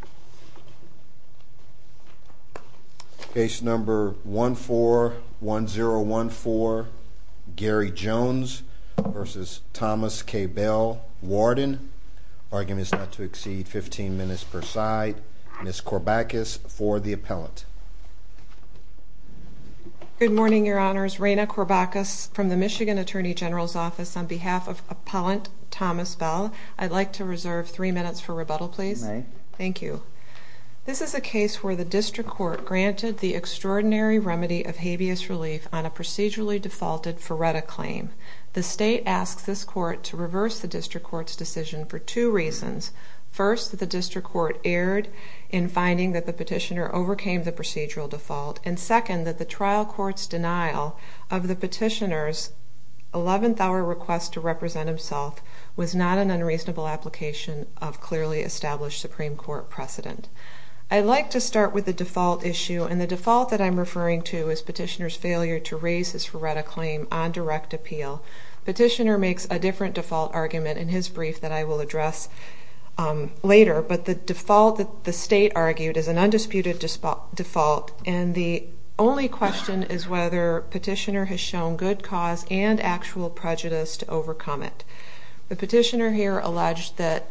v. Thomas K. Bell, Warden Argument is not to exceed 15 minutes per side. Ms. Corbacus for the appellant. Good morning, Your Honors. Raina Corbacus from the Michigan Attorney General's Office on behalf of Appellant Thomas Bell, I'd like to reserve three minutes for rebuttal, please. Thank you. This is a case where the district court granted the extraordinary remedy of habeas relief on a procedurally defaulted FRERTA claim. The state asks this court to reverse the district court's decision for two reasons. First, the district court erred in finding that the petitioner overcame the procedural default. And second, that the trial court's denial of the petitioner's request to represent himself was not an unreasonable application of clearly established Supreme Court precedent. I'd like to start with the default issue, and the default that I'm referring to is petitioner's failure to raise his FRERTA claim on direct appeal. Petitioner makes a different default argument in his brief that I will address later, but the default that the state argued is an undisputed default, and the only question is whether petitioner has shown good cause and actual prejudice to overcome it. The petitioner here alleged that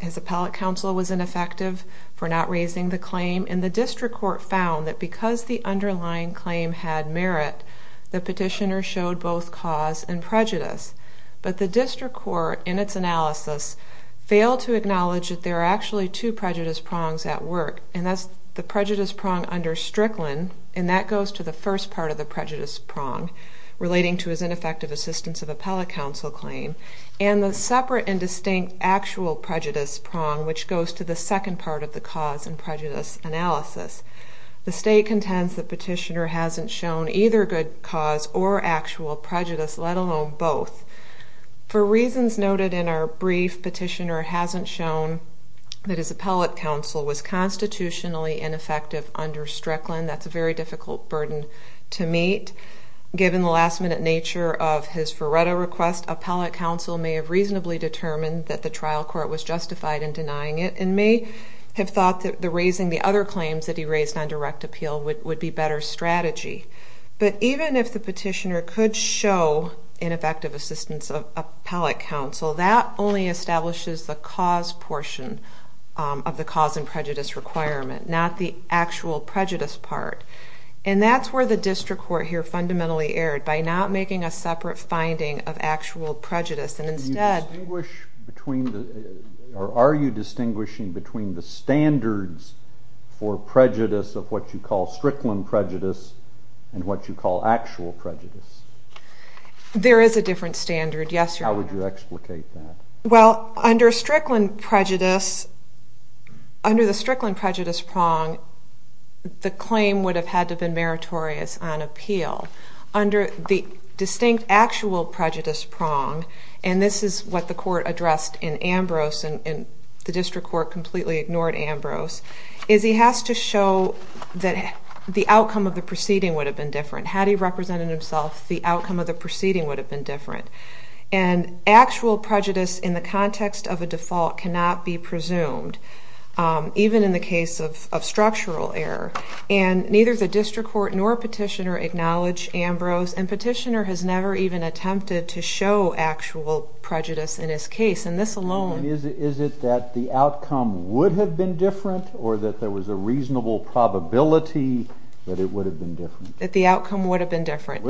his appellate counsel was ineffective for not raising the claim, and the district court found that because the underlying claim had merit, the petitioner showed both cause and prejudice. But the district court in its analysis failed to acknowledge that there are actually two prejudice prongs at work, and that's the prejudice prong under Strickland, and that goes to the first part of the prejudice prong. Relating to his ineffective assistance of appellate counsel claim, and the separate and distinct actual prejudice prong, which goes to the second part of the cause and prejudice analysis. The state contends that petitioner hasn't shown either good cause or actual prejudice, let alone both. For reasons noted in our brief, petitioner hasn't shown that his appellate counsel was constitutionally ineffective under Strickland. That's a very difficult burden to meet, given the last-minute nature of his Ferretto request. Appellate counsel may have reasonably determined that the trial court was justified in denying it, and may have thought that raising the other claims that he raised on direct appeal would be a better strategy. But even if the petitioner could show ineffective assistance of appellate counsel, that only establishes the cause portion of the cause and prejudice requirement, not the actual prejudice part. And that's where district court here fundamentally erred, by not making a separate finding of actual prejudice, and instead... Are you distinguishing between the standards for prejudice of what you call Strickland prejudice, and what you call actual prejudice? There is a different standard, yes. How would you explicate that? Well, under Strickland prejudice, under the Strickland prejudice prong, the claim would have had to have been meritorious on appeal. Under the distinct actual prejudice prong, and this is what the court addressed in Ambrose, and the district court completely ignored Ambrose, is he has to show that the outcome of the proceeding would have been different. Had he represented himself, the outcome of the proceeding would have been different. And actual prejudice in the context of a default cannot be presumed, even in the case of structural error. And neither the district court nor petitioner acknowledged Ambrose, and petitioner has never even attempted to show actual prejudice in his case. And this alone... And is it that the outcome would have been different, or that there was a reasonable probability that it would have been different? That the outcome would have been different,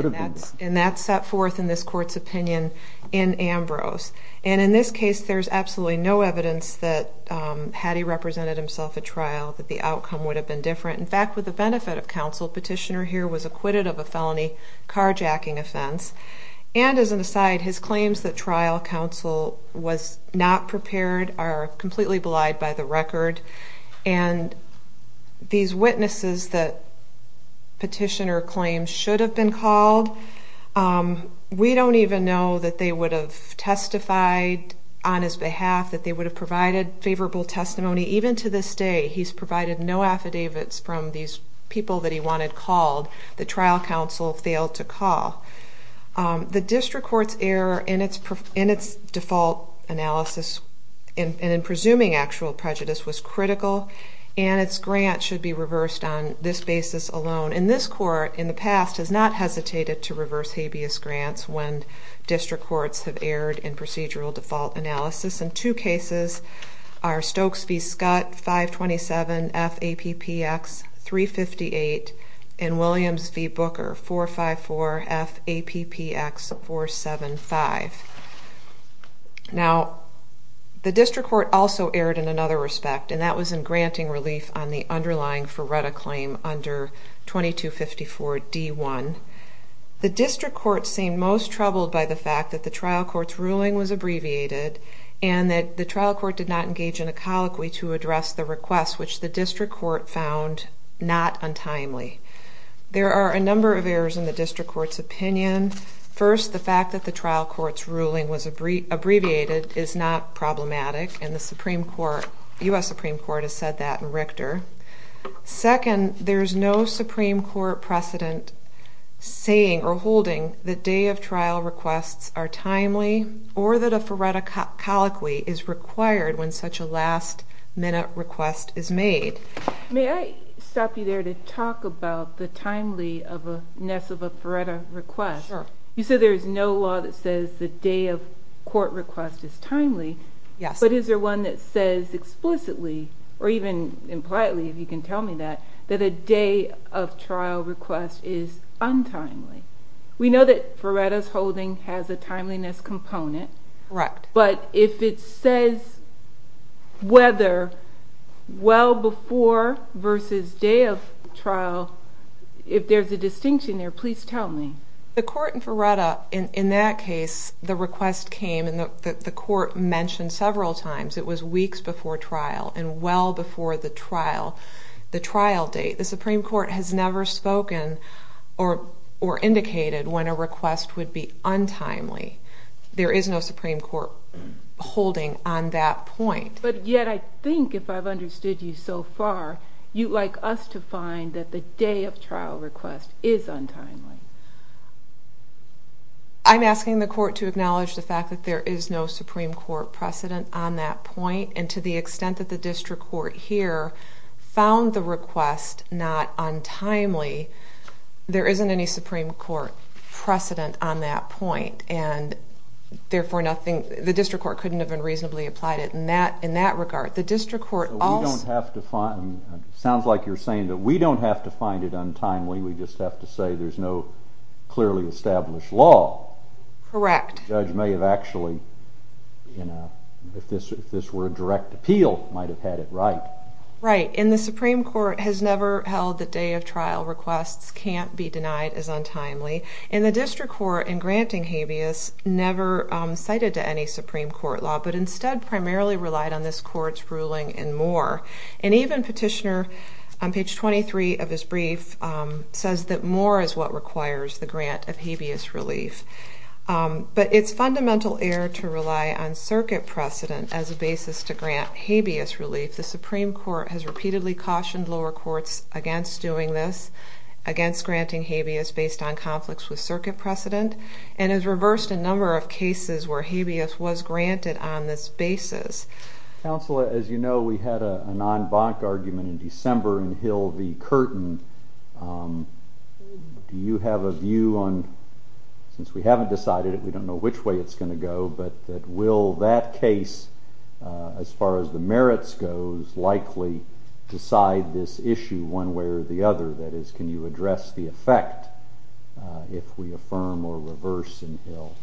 and that's set forth in this court's opinion in Ambrose. And in this case, there's absolutely no evidence that, had he represented himself at trial, that the outcome would have been different. In fact, with the benefit of counsel, petitioner here was acquitted of a felony carjacking offense, and as an aside, his claims that trial counsel was not prepared are completely belied by the record. And these witnesses that petitioner claims should have been called, we don't even know that they would have testified on his behalf, that they would have provided favorable testimony. Even to this day, he's provided no affidavits from these people that he wanted called, that trial counsel failed to call. The district court's error in its default analysis and in presuming actual prejudice was critical, and its grant should be reversed on this basis alone. And this court, in the past, has not hesitated to reverse habeas grants when district courts have erred in procedural default analysis. And two cases are Stokes v. Scott, 527 FAPPX 358, and Williams v. Booker, 454 FAPPX 475. Now, the district court also erred in another respect, and that was in granting relief on the underlying Ferretta claim under 2254 D1. The district court seemed most troubled by the fact that the trial court's ruling was abbreviated, and that the trial court did not engage in a colloquy to address the request, which the district court found not untimely. There are a number of errors in the district court's opinion. First, the fact that the trial court's ruling was abbreviated is not problematic, and the U.S. Supreme Court has said that in Richter. Second, there's no Supreme Court precedent saying or holding the day of trial requests are timely, or that a Ferretta colloquy is required when such a last-minute request is made. May I stop you there to talk about the timelyness of a Ferretta request? Sure. You said there is no law that says the day of court request is timely. Yes. But is there one that says explicitly, or even impliedly, if you can tell me that, that a day of trial request is untimely? We know that Ferretta's holding has a timeliness component. Correct. But if it says whether well before versus day of trial, if there's a distinction there, please tell me. The court in Ferretta, in that case, the request came, and the court mentioned several times, it was weeks before trial, and well before the trial, the trial date. The Supreme Court has never spoken or indicated when a request would be untimely. There is no Supreme Court holding on that point. But yet, I think if I've understood you so far, you'd like us to find that the day of trial request is untimely. I'm asking the court to acknowledge the fact that there is no Supreme Court precedent on that point, and to the extent that the district court here found the request not untimely, there isn't any Supreme Court precedent on that point. And therefore, nothing, the district court couldn't have been reasonably applied it in that regard. The district court also... We don't have to find, it sounds like you're saying that we don't have to find it untimely, we just have to say there's no clearly established law. Correct. The judge may have actually, if this were a direct appeal, might have had it right. Right. And the Supreme Court has never held the day of trial requests can't be denied as untimely. And the district court, in granting habeas, never cited to any Supreme Court law, but instead primarily relied on this court's ruling and more. And even Petitioner, on page 23 of his brief, says that more is what requires the grant of habeas relief. But it's fundamental error to rely on circuit precedent as a basis to grant habeas relief. The Supreme Court has repeatedly cautioned lower courts against doing this, against granting habeas based on conflicts with circuit precedent, and has reversed a number of cases where habeas was granted on this basis. Counsel, as you know, we had a non-bonk argument in December in Hill v. Curtin. Do you have a view on, since we haven't decided it, we don't know which way it's gonna go, but that will that case, as far as the merits goes, likely decide this issue one way or the other? That is, can you address the effect if we affirm or reverse in Hill?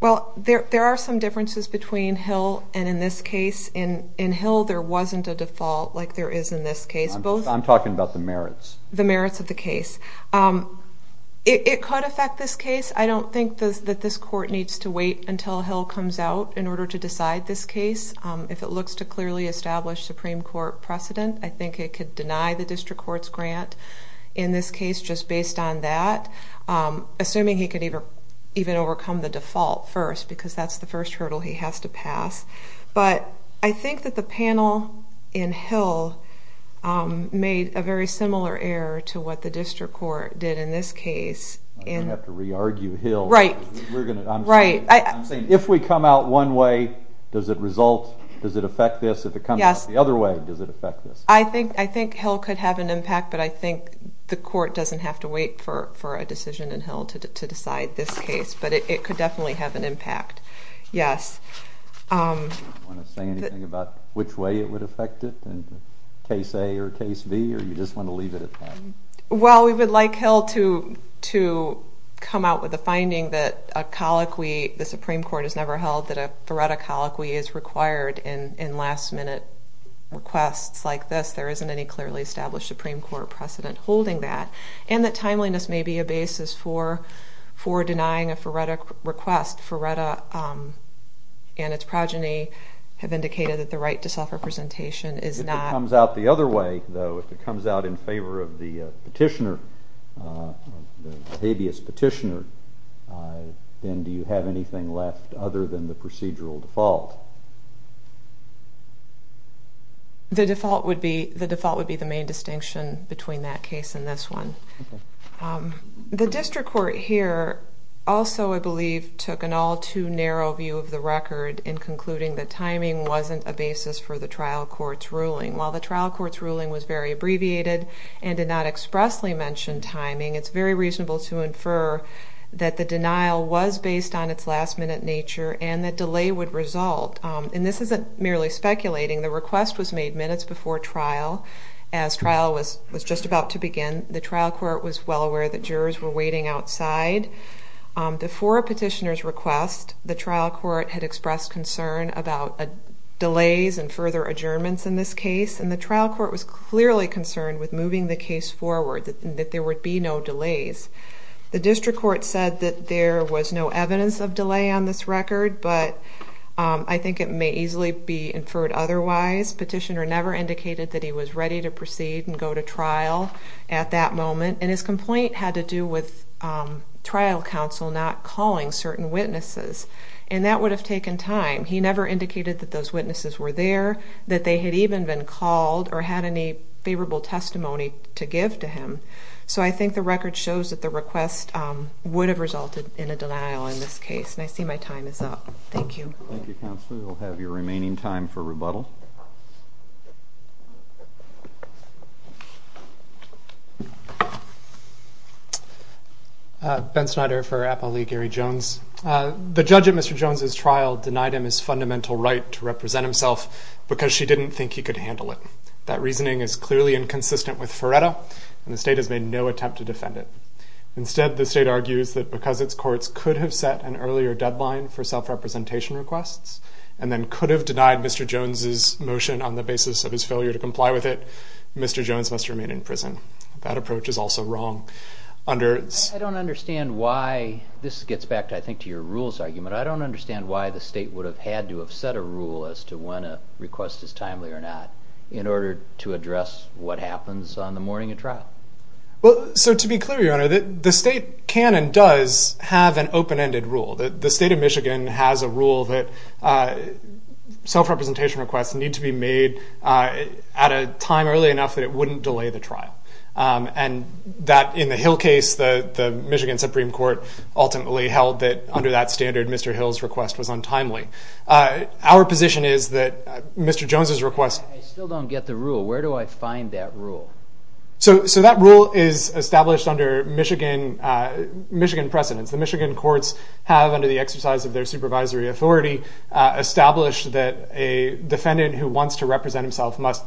Well, there are some differences between Hill and in this case. In Hill, there wasn't a default like there is in this case. I'm talking about the merits. The merits of the case. It could affect this case. I don't think that this court needs to wait until Hill comes out in order to decide this case. If it looks to clearly establish Supreme Court precedent, I think it could deny the district court's grant in this case, just based on that. Assuming he could even overcome the default first, because that's the first hurdle he has to pass. But I think that the panel in Hill made a very similar error to what the district court did in this case. I'm going to have to re-argue Hill. Right. We're going to, I'm saying, if we come out one way, does it result, does it affect this? If it comes out the other way, does it affect this? I think Hill could have an impact, but I think the court doesn't have to wait for a decision in Hill to decide this case. But it could definitely have an impact. Yes. Do you want to say anything about which way it would affect it, case A or case B, or you just want to leave it at that? Well, we would like Hill to come out with a finding that a colloquy, the Supreme Court has any clearly established Supreme Court precedent holding that, and that timeliness may be a basis for denying a FRERTA request. FRERTA and its progeny have indicated that the right to self-representation is not... If it comes out the other way, though, if it comes out in favor of the petitioner, the habeas petitioner, then do you have anything left other than the procedural default? The default would be the main distinction between that case and this one. The district court here also, I believe, took an all too narrow view of the record in concluding that timing wasn't a basis for the trial court's ruling. While the trial court's ruling was very abbreviated and did not expressly mention timing, it's very reasonable to infer that the denial was This isn't merely speculating. The request was made minutes before trial as trial was just about to begin. The trial court was well aware that jurors were waiting outside. Before a petitioner's request, the trial court had expressed concern about delays and further adjournments in this case, and the trial court was clearly concerned with moving the case forward, that there would be no delays. The district court said that there was no evidence of delay on this record, but I think it may easily be inferred otherwise. Petitioner never indicated that he was ready to proceed and go to trial at that moment, and his complaint had to do with trial counsel not calling certain witnesses, and that would have taken time. He never indicated that those witnesses were there, that they had even been called, or had any favorable testimony to give to him, so I think the record shows that the request would have resulted in a denial in this case, and I see my time is up. Thank you. Thank you, Counselor. You'll have your remaining time for rebuttal. Ben Snyder for Appalachia Gary Jones. The judge at Mr. Jones's trial denied him his fundamental right to represent himself because she didn't think he could handle it. That reasoning is clearly inconsistent with Ferretta, and the state has made no attempt to defend it. Instead, the state argues that because its courts could have set an earlier deadline for self-representation requests, and then could have denied Mr. Jones's motion on the basis of his failure to comply with it, Mr. Jones must remain in prison. That approach is also wrong. I don't understand why, this gets back to I think to your rules argument, I don't understand why the state would have had to have set a rule as to when a request is timely or not in order to address what happens on the morning of trial. Well, so to be clear, Your Honor, the state can and does have an open-ended rule. The state of Michigan has a rule that self-representation requests need to be made at a time early enough that it wouldn't delay the trial, and that in the Hill case, the Michigan Supreme Court ultimately held that under that standard, Mr. Hill's request was untimely. Our position is that Mr. Jones's I still don't get the rule. Where do I find that rule? So that rule is established under Michigan precedents. The Michigan courts have, under the exercise of their supervisory authority, established that a defendant who wants to represent himself must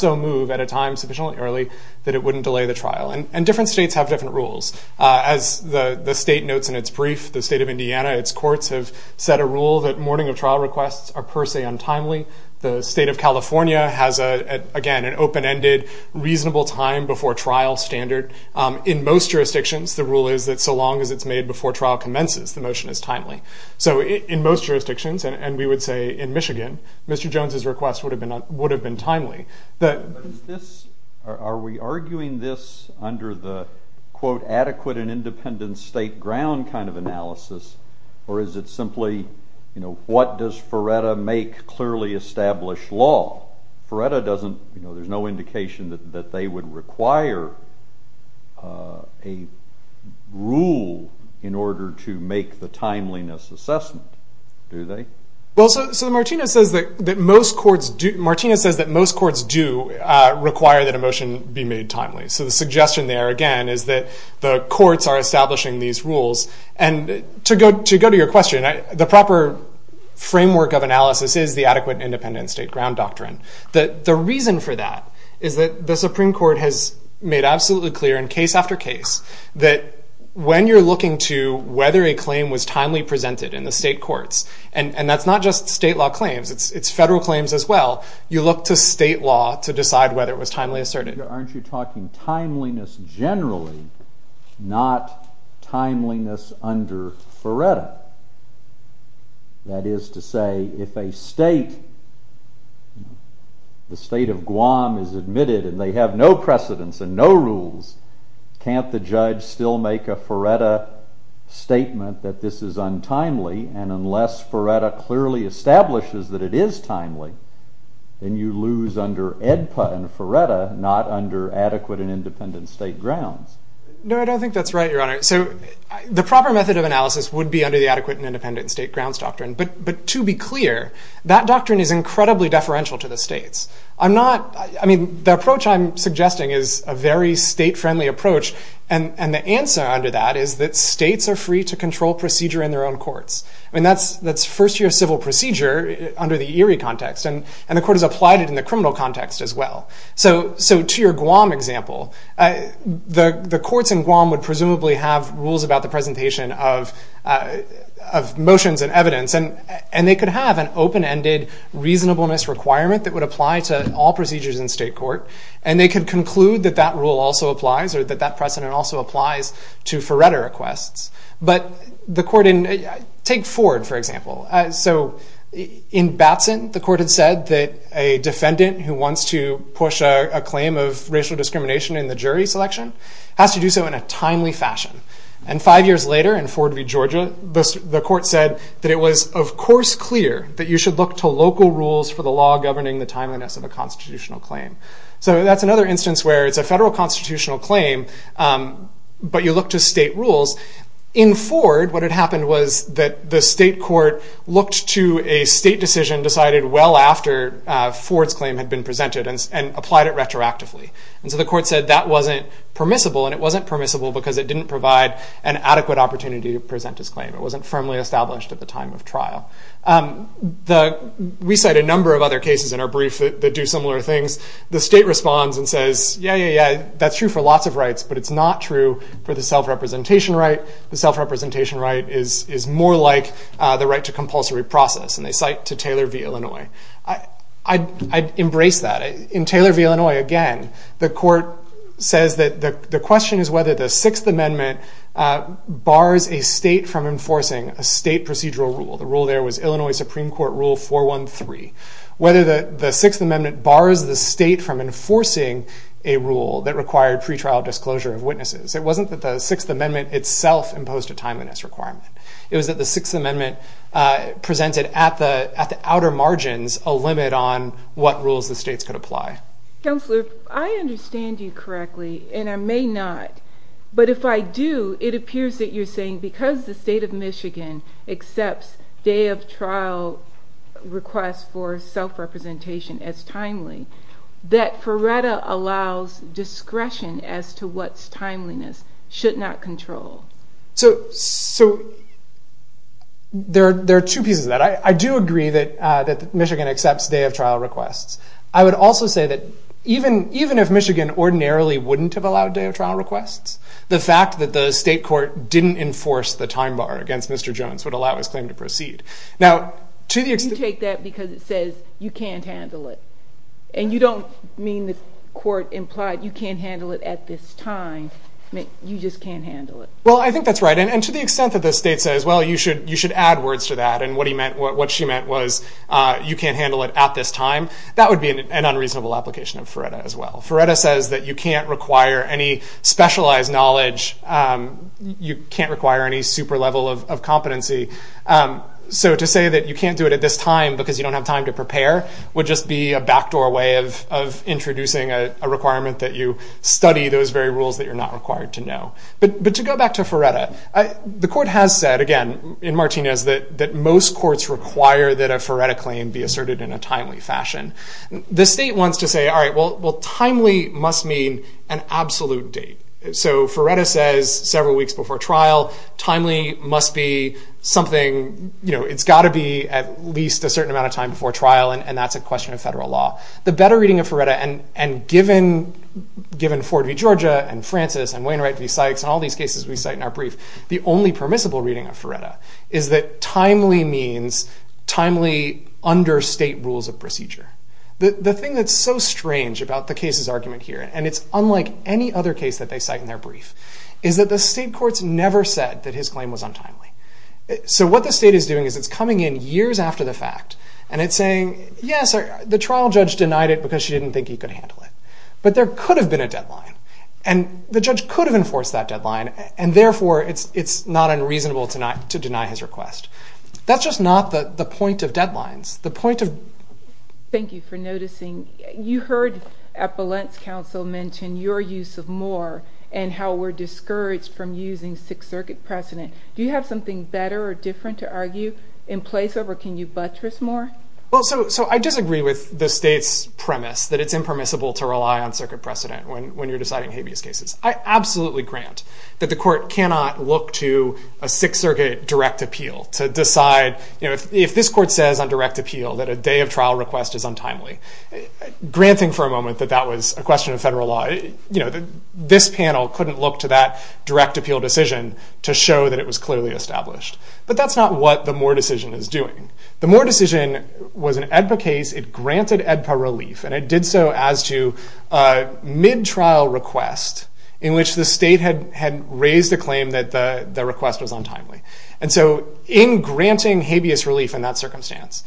so move at a time sufficiently early that it wouldn't delay the trial, and different states have different rules. As the state notes in its brief, the state of Indiana, its courts have set a rule that morning of trial requests are per se untimely. The state of California has, again, an open-ended reasonable time before trial standard. In most jurisdictions, the rule is that so long as it's made before trial commences, the motion is timely. So in most jurisdictions, and we would say in Michigan, Mr. Jones's request would have been timely. Are we arguing this under the, quote, adequate and does Feretta make clearly established law? Feretta doesn't, you know, there's no indication that they would require a rule in order to make the timeliness assessment, do they? Well, so Martina says that most courts do, Martina says that most courts do require that a motion be made timely. So the suggestion there, again, is that the courts are establishing these rules, and to go to your question, the proper framework of analysis is the adequate independent state ground doctrine. The reason for that is that the Supreme Court has made absolutely clear in case after case that when you're looking to whether a claim was timely presented in the state courts, and that's not just state law claims, it's federal claims as well, you look to state law to decide whether it was timely asserted. Aren't you talking timeliness generally, not timeliness under Feretta? That is to say, if a state, the state of Guam is admitted and they have no precedents and no rules, can't the judge still make a Feretta statement that this is untimely, and unless Feretta clearly establishes that it is timely, then you lose under AEDPA and Feretta, not under adequate and independent state grounds. No, I don't think that's right, Your Honor. So the proper method of analysis would be under the adequate and independent state grounds doctrine, but to be clear, that doctrine is incredibly deferential to the states. I mean, the approach I'm suggesting is a very state-friendly approach, and the answer under that is that states are free to control procedure in their own courts. I mean, that's first year civil procedure under the Erie context, and the court has applied it criminal context as well. So to your Guam example, the courts in Guam would presumably have rules about the presentation of motions and evidence, and they could have an open-ended reasonableness requirement that would apply to all procedures in state court, and they could conclude that that rule also applies, or that precedent also applies to Feretta requests. But the court in, take Ford, for example. So in Batson, the court had said that a defendant who wants to push a claim of racial discrimination in the jury selection has to do so in a timely fashion, and five years later in Ford v. Georgia, the court said that it was, of course, clear that you should look to local rules for the law governing the timeliness of a constitutional claim. So that's another instance where it's a federal constitutional claim, but you look to state rules. In Ford, what had happened was that the state court looked to a state decision decided well after Ford's claim had been presented, and applied it retroactively. And so the court said that wasn't permissible, and it wasn't permissible because it didn't provide an adequate opportunity to present his claim. It wasn't firmly established at the time of trial. We cite a number of other cases in our The state responds and says, yeah, yeah, yeah, that's true for lots of rights, but it's not true for the self-representation right. The self-representation right is more like the right to compulsory process, and they cite to Taylor v. Illinois. I'd embrace that. In Taylor v. Illinois, again, the court says that the question is whether the Sixth Amendment bars a state from enforcing a state procedural rule. The rule there was Illinois Supreme Court Rule 413. Whether the Sixth a rule that required pretrial disclosure of witnesses. It wasn't that the Sixth Amendment itself imposed a timeliness requirement. It was that the Sixth Amendment presented at the outer margins a limit on what rules the states could apply. Counselor, if I understand you correctly, and I may not, but if I do, it appears that you're saying because the state of Michigan accepts day of trial requests for self-representation as timely, that Ferretta allows discretion as to what timeliness should not control. So there are two pieces of that. I do agree that Michigan accepts day of trial requests. I would also say that even if Michigan ordinarily wouldn't have allowed day of trial requests, the fact that the state court didn't enforce the time bar against Mr. Jones would allow his claim to proceed. You take that because it says you can't handle it, and you don't mean the court implied you can't handle it at this time. You just can't handle it. Well, I think that's right, and to the extent that the state says, well, you should add words to that, and what she meant was you can't handle it at this time, that would be an unreasonable application of Ferretta as well. Ferretta says that you can't require any level of competency. So to say that you can't do it at this time because you don't have time to prepare would just be a backdoor way of introducing a requirement that you study those very rules that you're not required to know. But to go back to Ferretta, the court has said again in Martinez that most courts require that a Ferretta claim be asserted in a timely fashion. The state wants to say, all right, well, timely must mean an absolute date. So Ferretta says several weeks before trial. Timely must be something, it's got to be at least a certain amount of time before trial, and that's a question of federal law. The better reading of Ferretta, and given Ford v. Georgia and Francis and Wainwright v. Sykes and all these cases we cite in our brief, the only permissible reading of Ferretta is that timely means timely under state rules of procedure. The thing that's so strange about the case's argument here, and it's unlike any other case that they cite in their brief, is that the state courts never said that his claim was untimely. So what the state is doing is it's coming in years after the fact and it's saying, yes, the trial judge denied it because she didn't think he could handle it, but there could have been a deadline, and the judge could have enforced that deadline, and therefore it's not unreasonable to deny his request. That's just not the point of deadlines. Thank you for noticing. You heard Appellant's counsel mention your use of more and how we're discouraged from using Sixth Circuit precedent. Do you have something better or different to argue in place of, or can you buttress more? Well, so I disagree with the state's premise that it's impermissible to rely on circuit precedent when you're deciding habeas cases. I absolutely grant that the court cannot look to a Sixth that a day of trial request is untimely, granting for a moment that that was a question of federal law. This panel couldn't look to that direct appeal decision to show that it was clearly established, but that's not what the Moore decision is doing. The Moore decision was an AEDPA case. It granted AEDPA relief, and it did so as to a mid-trial request in which the state had raised the claim that the request was untimely. And so in granting habeas relief in that circumstance,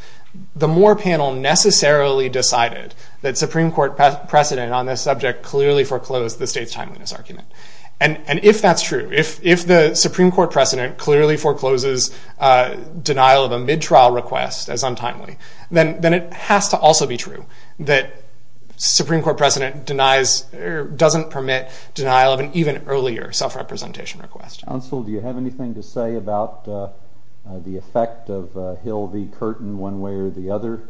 the Moore panel necessarily decided that Supreme Court precedent on this subject clearly foreclosed the state's timeliness argument. And if that's true, if the Supreme Court precedent clearly forecloses denial of a mid-trial request as untimely, then it has to also be true that Supreme Court precedent doesn't permit denial of an even earlier self-representation Counsel, do you have anything to say about the effect of Hill v. Curtin one way or the other?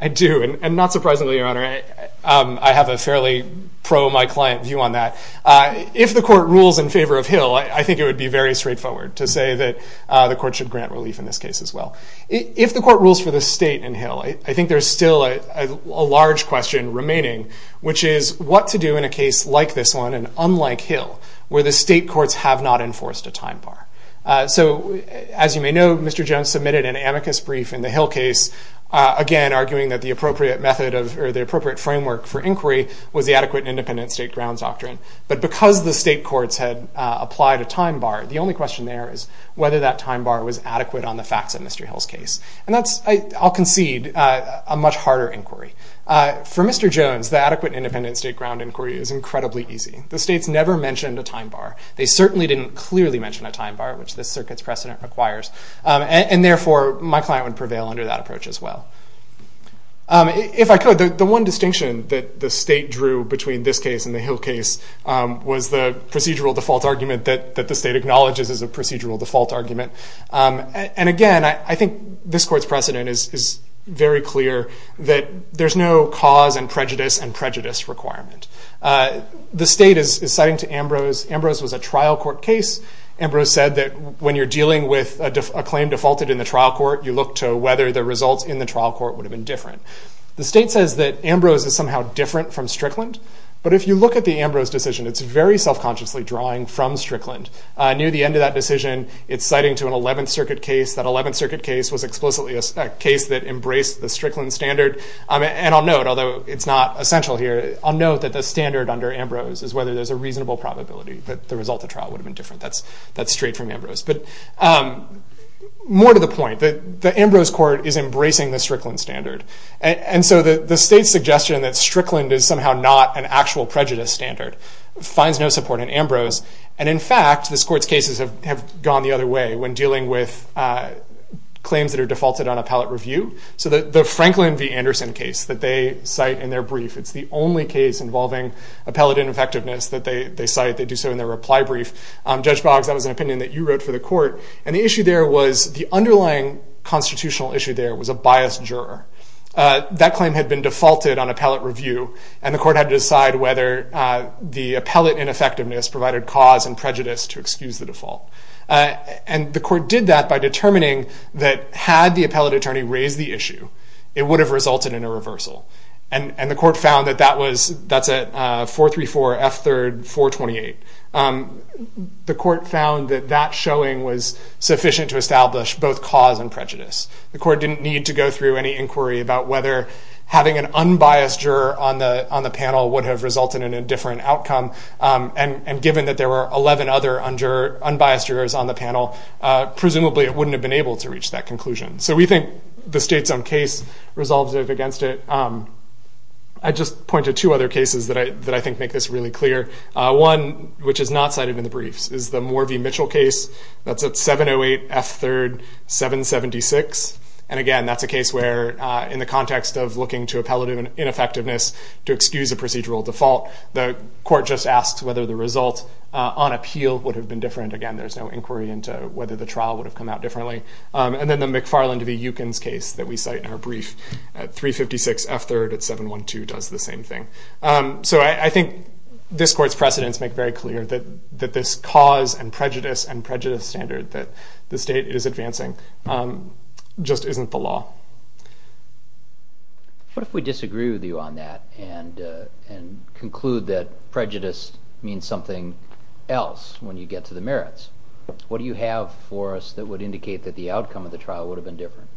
I do, and not surprisingly, your honor, I have a fairly pro-my-client view on that. If the court rules in favor of Hill, I think it would be very straightforward to say that the court should grant relief in this case as well. If the court rules for the state in Hill, I think there's still a large question remaining, which is what to do in a case like this one and unlike Hill, where the state courts have not enforced a time bar. So as you may know, Mr. Jones submitted an amicus brief in the Hill case, again arguing that the appropriate method of or the appropriate framework for inquiry was the adequate independent state grounds doctrine. But because the state courts had applied a time bar, the only question there is whether that time bar was adequate on the facts of Mr. Hill's case. And that's, I'll concede, a much harder inquiry. For Mr. Jones, the adequate independent state ground inquiry is incredibly easy. The state's never mentioned a time bar. They certainly didn't clearly mention a time bar, which this circuit's precedent requires, and therefore my client would prevail under that approach as well. If I could, the one distinction that the state drew between this case and the Hill case was the procedural default argument that the state acknowledges as a procedural default argument. And again, I think this court's precedent is very clear that there's no cause and prejudice requirement. The state is citing to Ambrose. Ambrose was a trial court case. Ambrose said that when you're dealing with a claim defaulted in the trial court, you look to whether the results in the trial court would have been different. The state says that Ambrose is somehow different from Strickland, but if you look at the Ambrose decision, it's very self-consciously drawing from Strickland. Near the end of that decision, it's citing to an 11th Circuit case. That 11th Circuit case was explicitly a case that embraced the Strickland standard. And I'll note, although it's not essential here, I'll note that the standard under Ambrose is whether there's a reasonable probability that the result of trial would have been different. That's straight from Ambrose. But more to the point, the Ambrose court is embracing the Strickland standard. And so the state's suggestion that Strickland is somehow not an actual prejudice standard finds no support in Ambrose. And in fact, this court's cases have gone the other way when dealing with claims that are defaulted on appellate review. So the Franklin v. Anderson case that they cite in their brief, it's the only case involving appellate ineffectiveness that they cite. They do so in their reply brief. Judge Boggs, that was an opinion that you wrote for the court. And the underlying constitutional issue there was a biased juror. That claim had been defaulted on appellate review, and the court had to decide whether the appellate ineffectiveness provided cause and prejudice to excuse the default. And the court did that by determining that, had the appellate attorney raised the issue, it would have resulted in a reversal. And the court found that that was, that's a 434 F. 3rd 428. The court found that that showing was sufficient to establish both cause and prejudice. The court didn't need to go through any inquiry about whether having an unbiased juror on the panel would have resulted in a different outcome. And given that there were 11 other unbiased jurors on the panel, presumably it wouldn't have been able to reach that conclusion. So we think the state's own case resolves against it. I just point to two other cases that I think make this really clear. One which is not cited in the briefs is the Morvey Mitchell case. That's at 708 F. 3rd 776. And again, that's a case where in the context of looking to appellate ineffectiveness to excuse a procedural default, the court just asks whether the result on appeal would have been different. Again, there's no inquiry into whether the trial would have come out differently. And then the McFarland v. Eukins case that we cite in our brief at 356 F. 3rd at 712 does the same thing. So I think this court's precedents make very clear that this cause and prejudice and prejudice standard that the state is advancing just isn't the law. What if we disagree with you on that and conclude that prejudice means something else when you get to the merits? What do you have for us that would indicate that the outcome of the trial would have been different?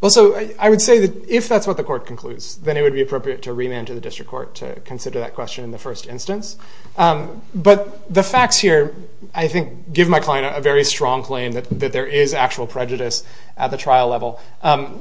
Well, so I would say that if that's what the court concludes, then it would be appropriate to remand to the district court to consider that question in the first instance. But the facts here, I think, give my client a very strong claim that there is actual prejudice at the trial level.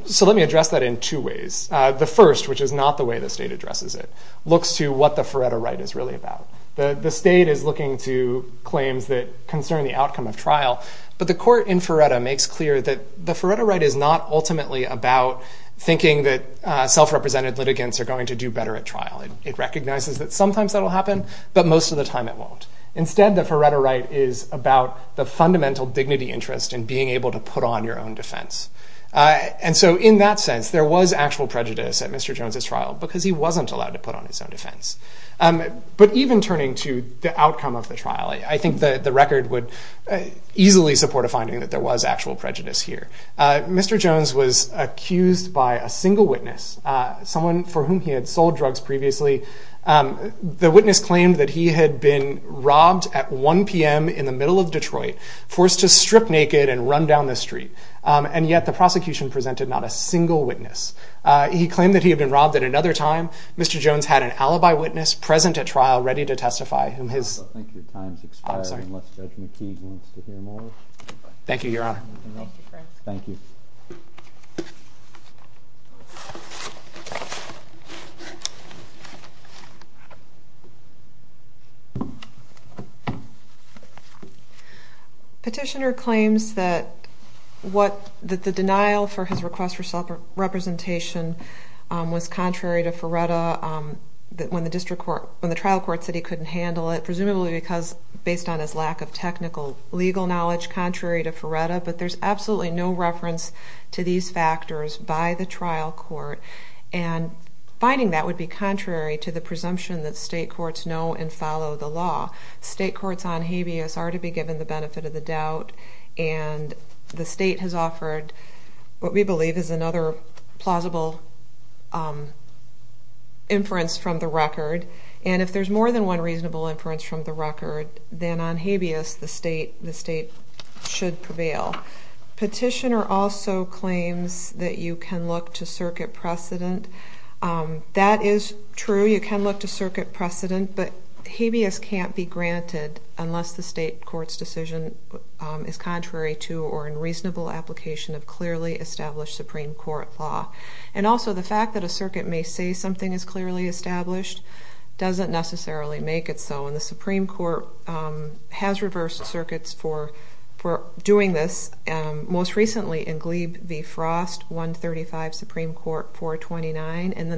So let me address that in two ways. The first, which is not the way the state addresses it, looks to what the Faretta right is really about. The state is looking to claims that concern the outcome of trial, but the court in Faretta makes clear that the Faretta right is not ultimately about thinking that self-represented litigants are going to do better at trial. It recognizes that sometimes that'll happen, but most of the time it won't. Instead, the Faretta right is about the fundamental dignity interest in being able to put on your own defense. And so in that sense, there was actual prejudice at Mr. Jones's trial because he wasn't allowed to put on his own defense. But even turning to the outcome of the trial, I think that the record would easily support a finding that there was actual prejudice here. Mr. Jones was accused by a single witness, someone for whom he had sold drugs previously. The witness claimed that he had been robbed at 1 p.m. in the middle of Detroit, forced to strip naked and run down the street, and yet the prosecution presented not a single witness. He claimed that he had been robbed at another time. Mr. Jones had an alibi witness present at trial ready to testify, whom I'm going to turn to. Petitioner claims that the denial for his request for self-representation was contrary to Faretta when the trial court said he couldn't handle it, presumably because based on his lack of technical legal knowledge, contrary to Faretta. But there's absolutely no reference to these factors by the trial court. And finding that would be contrary to the presumption that state courts know and follow the law. State courts on habeas are to be given the benefit of the doubt, and the state has offered what we believe is another plausible inference from the record. And if there's more than one reasonable inference from the record, then on habeas the state should prevail. Petitioner also claims that you can look to circuit precedent. That is true, you can look to circuit precedent, but habeas can't be granted unless the state court's decision is contrary to or in reasonable application of clearly established Supreme Court law. And also the fact that a circuit may say something is clearly established doesn't necessarily make it so. And the Supreme Court has reversed circuits for doing this, most recently in and then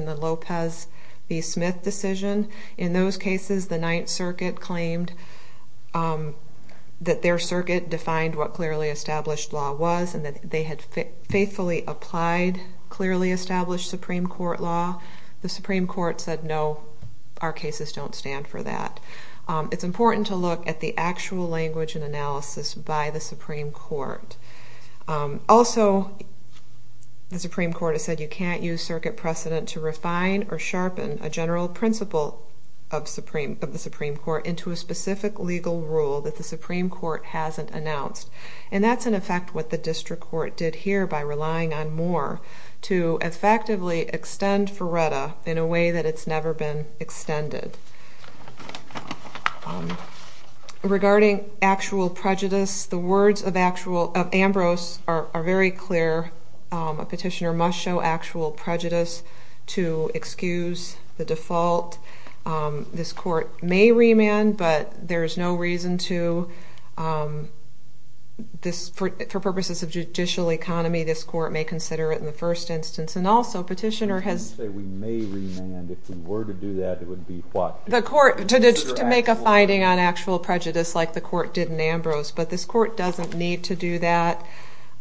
the Lopez v. Smith decision. In those cases the Ninth Circuit claimed that their circuit defined what clearly established law was, and that they had faithfully applied clearly established Supreme Court law. The Supreme Court said no, our cases don't stand for that. It's important to look at the actual language and analysis by the Supreme Court. Also, the Supreme Court has said you can't use circuit precedent to refine or sharpen a general principle of the Supreme Court into a specific legal rule that the Supreme Court hasn't announced. And that's in effect what the district court did here by relying on Moore to effectively extend Ferretta in a way that it's never been extended. Regarding actual prejudice, the words of Ambrose are very clear. A petitioner must show actual prejudice to excuse the default. This court may remand, but there's no reason to. For purposes of judicial economy, this court may consider it in the first instance. And also, we may remand. If we were to do that, it would be what? To make a finding on actual prejudice like the court did in Ambrose. But this court doesn't need to do that.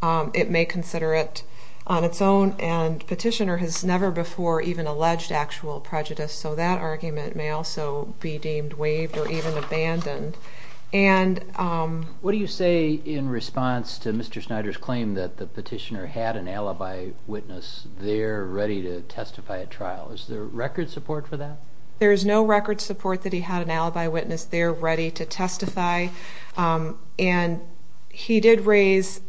It may consider it on its own. And petitioner has never before even alleged actual prejudice, so that argument may also be deemed waived or even abandoned. What do you say in response to Mr. Snyder's claim that the petitioner had an alibi witness there ready to testify at trial? Is there record support for that? There is no record support that he had an alibi witness there ready to testify. And he did raise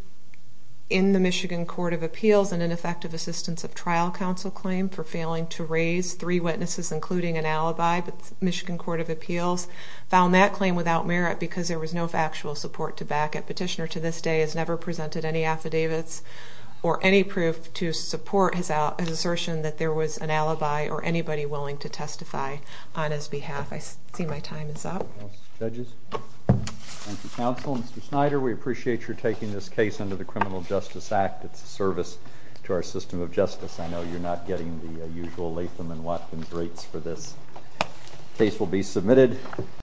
in the Michigan Court of Appeals an ineffective assistance of trial counsel claim for failing to raise three witnesses, including an alibi with Michigan Court of Appeals. Found that claim without merit because there was no factual support to back it. The court has assertion that there was an alibi or anybody willing to testify on his behalf. I see my time is up. Judges? Thank you, counsel. Mr. Snyder, we appreciate your taking this case under the Criminal Justice Act. It's a service to our system of justice. I know you're not getting the usual Latham and Watkins rates for this. Case will be submitted.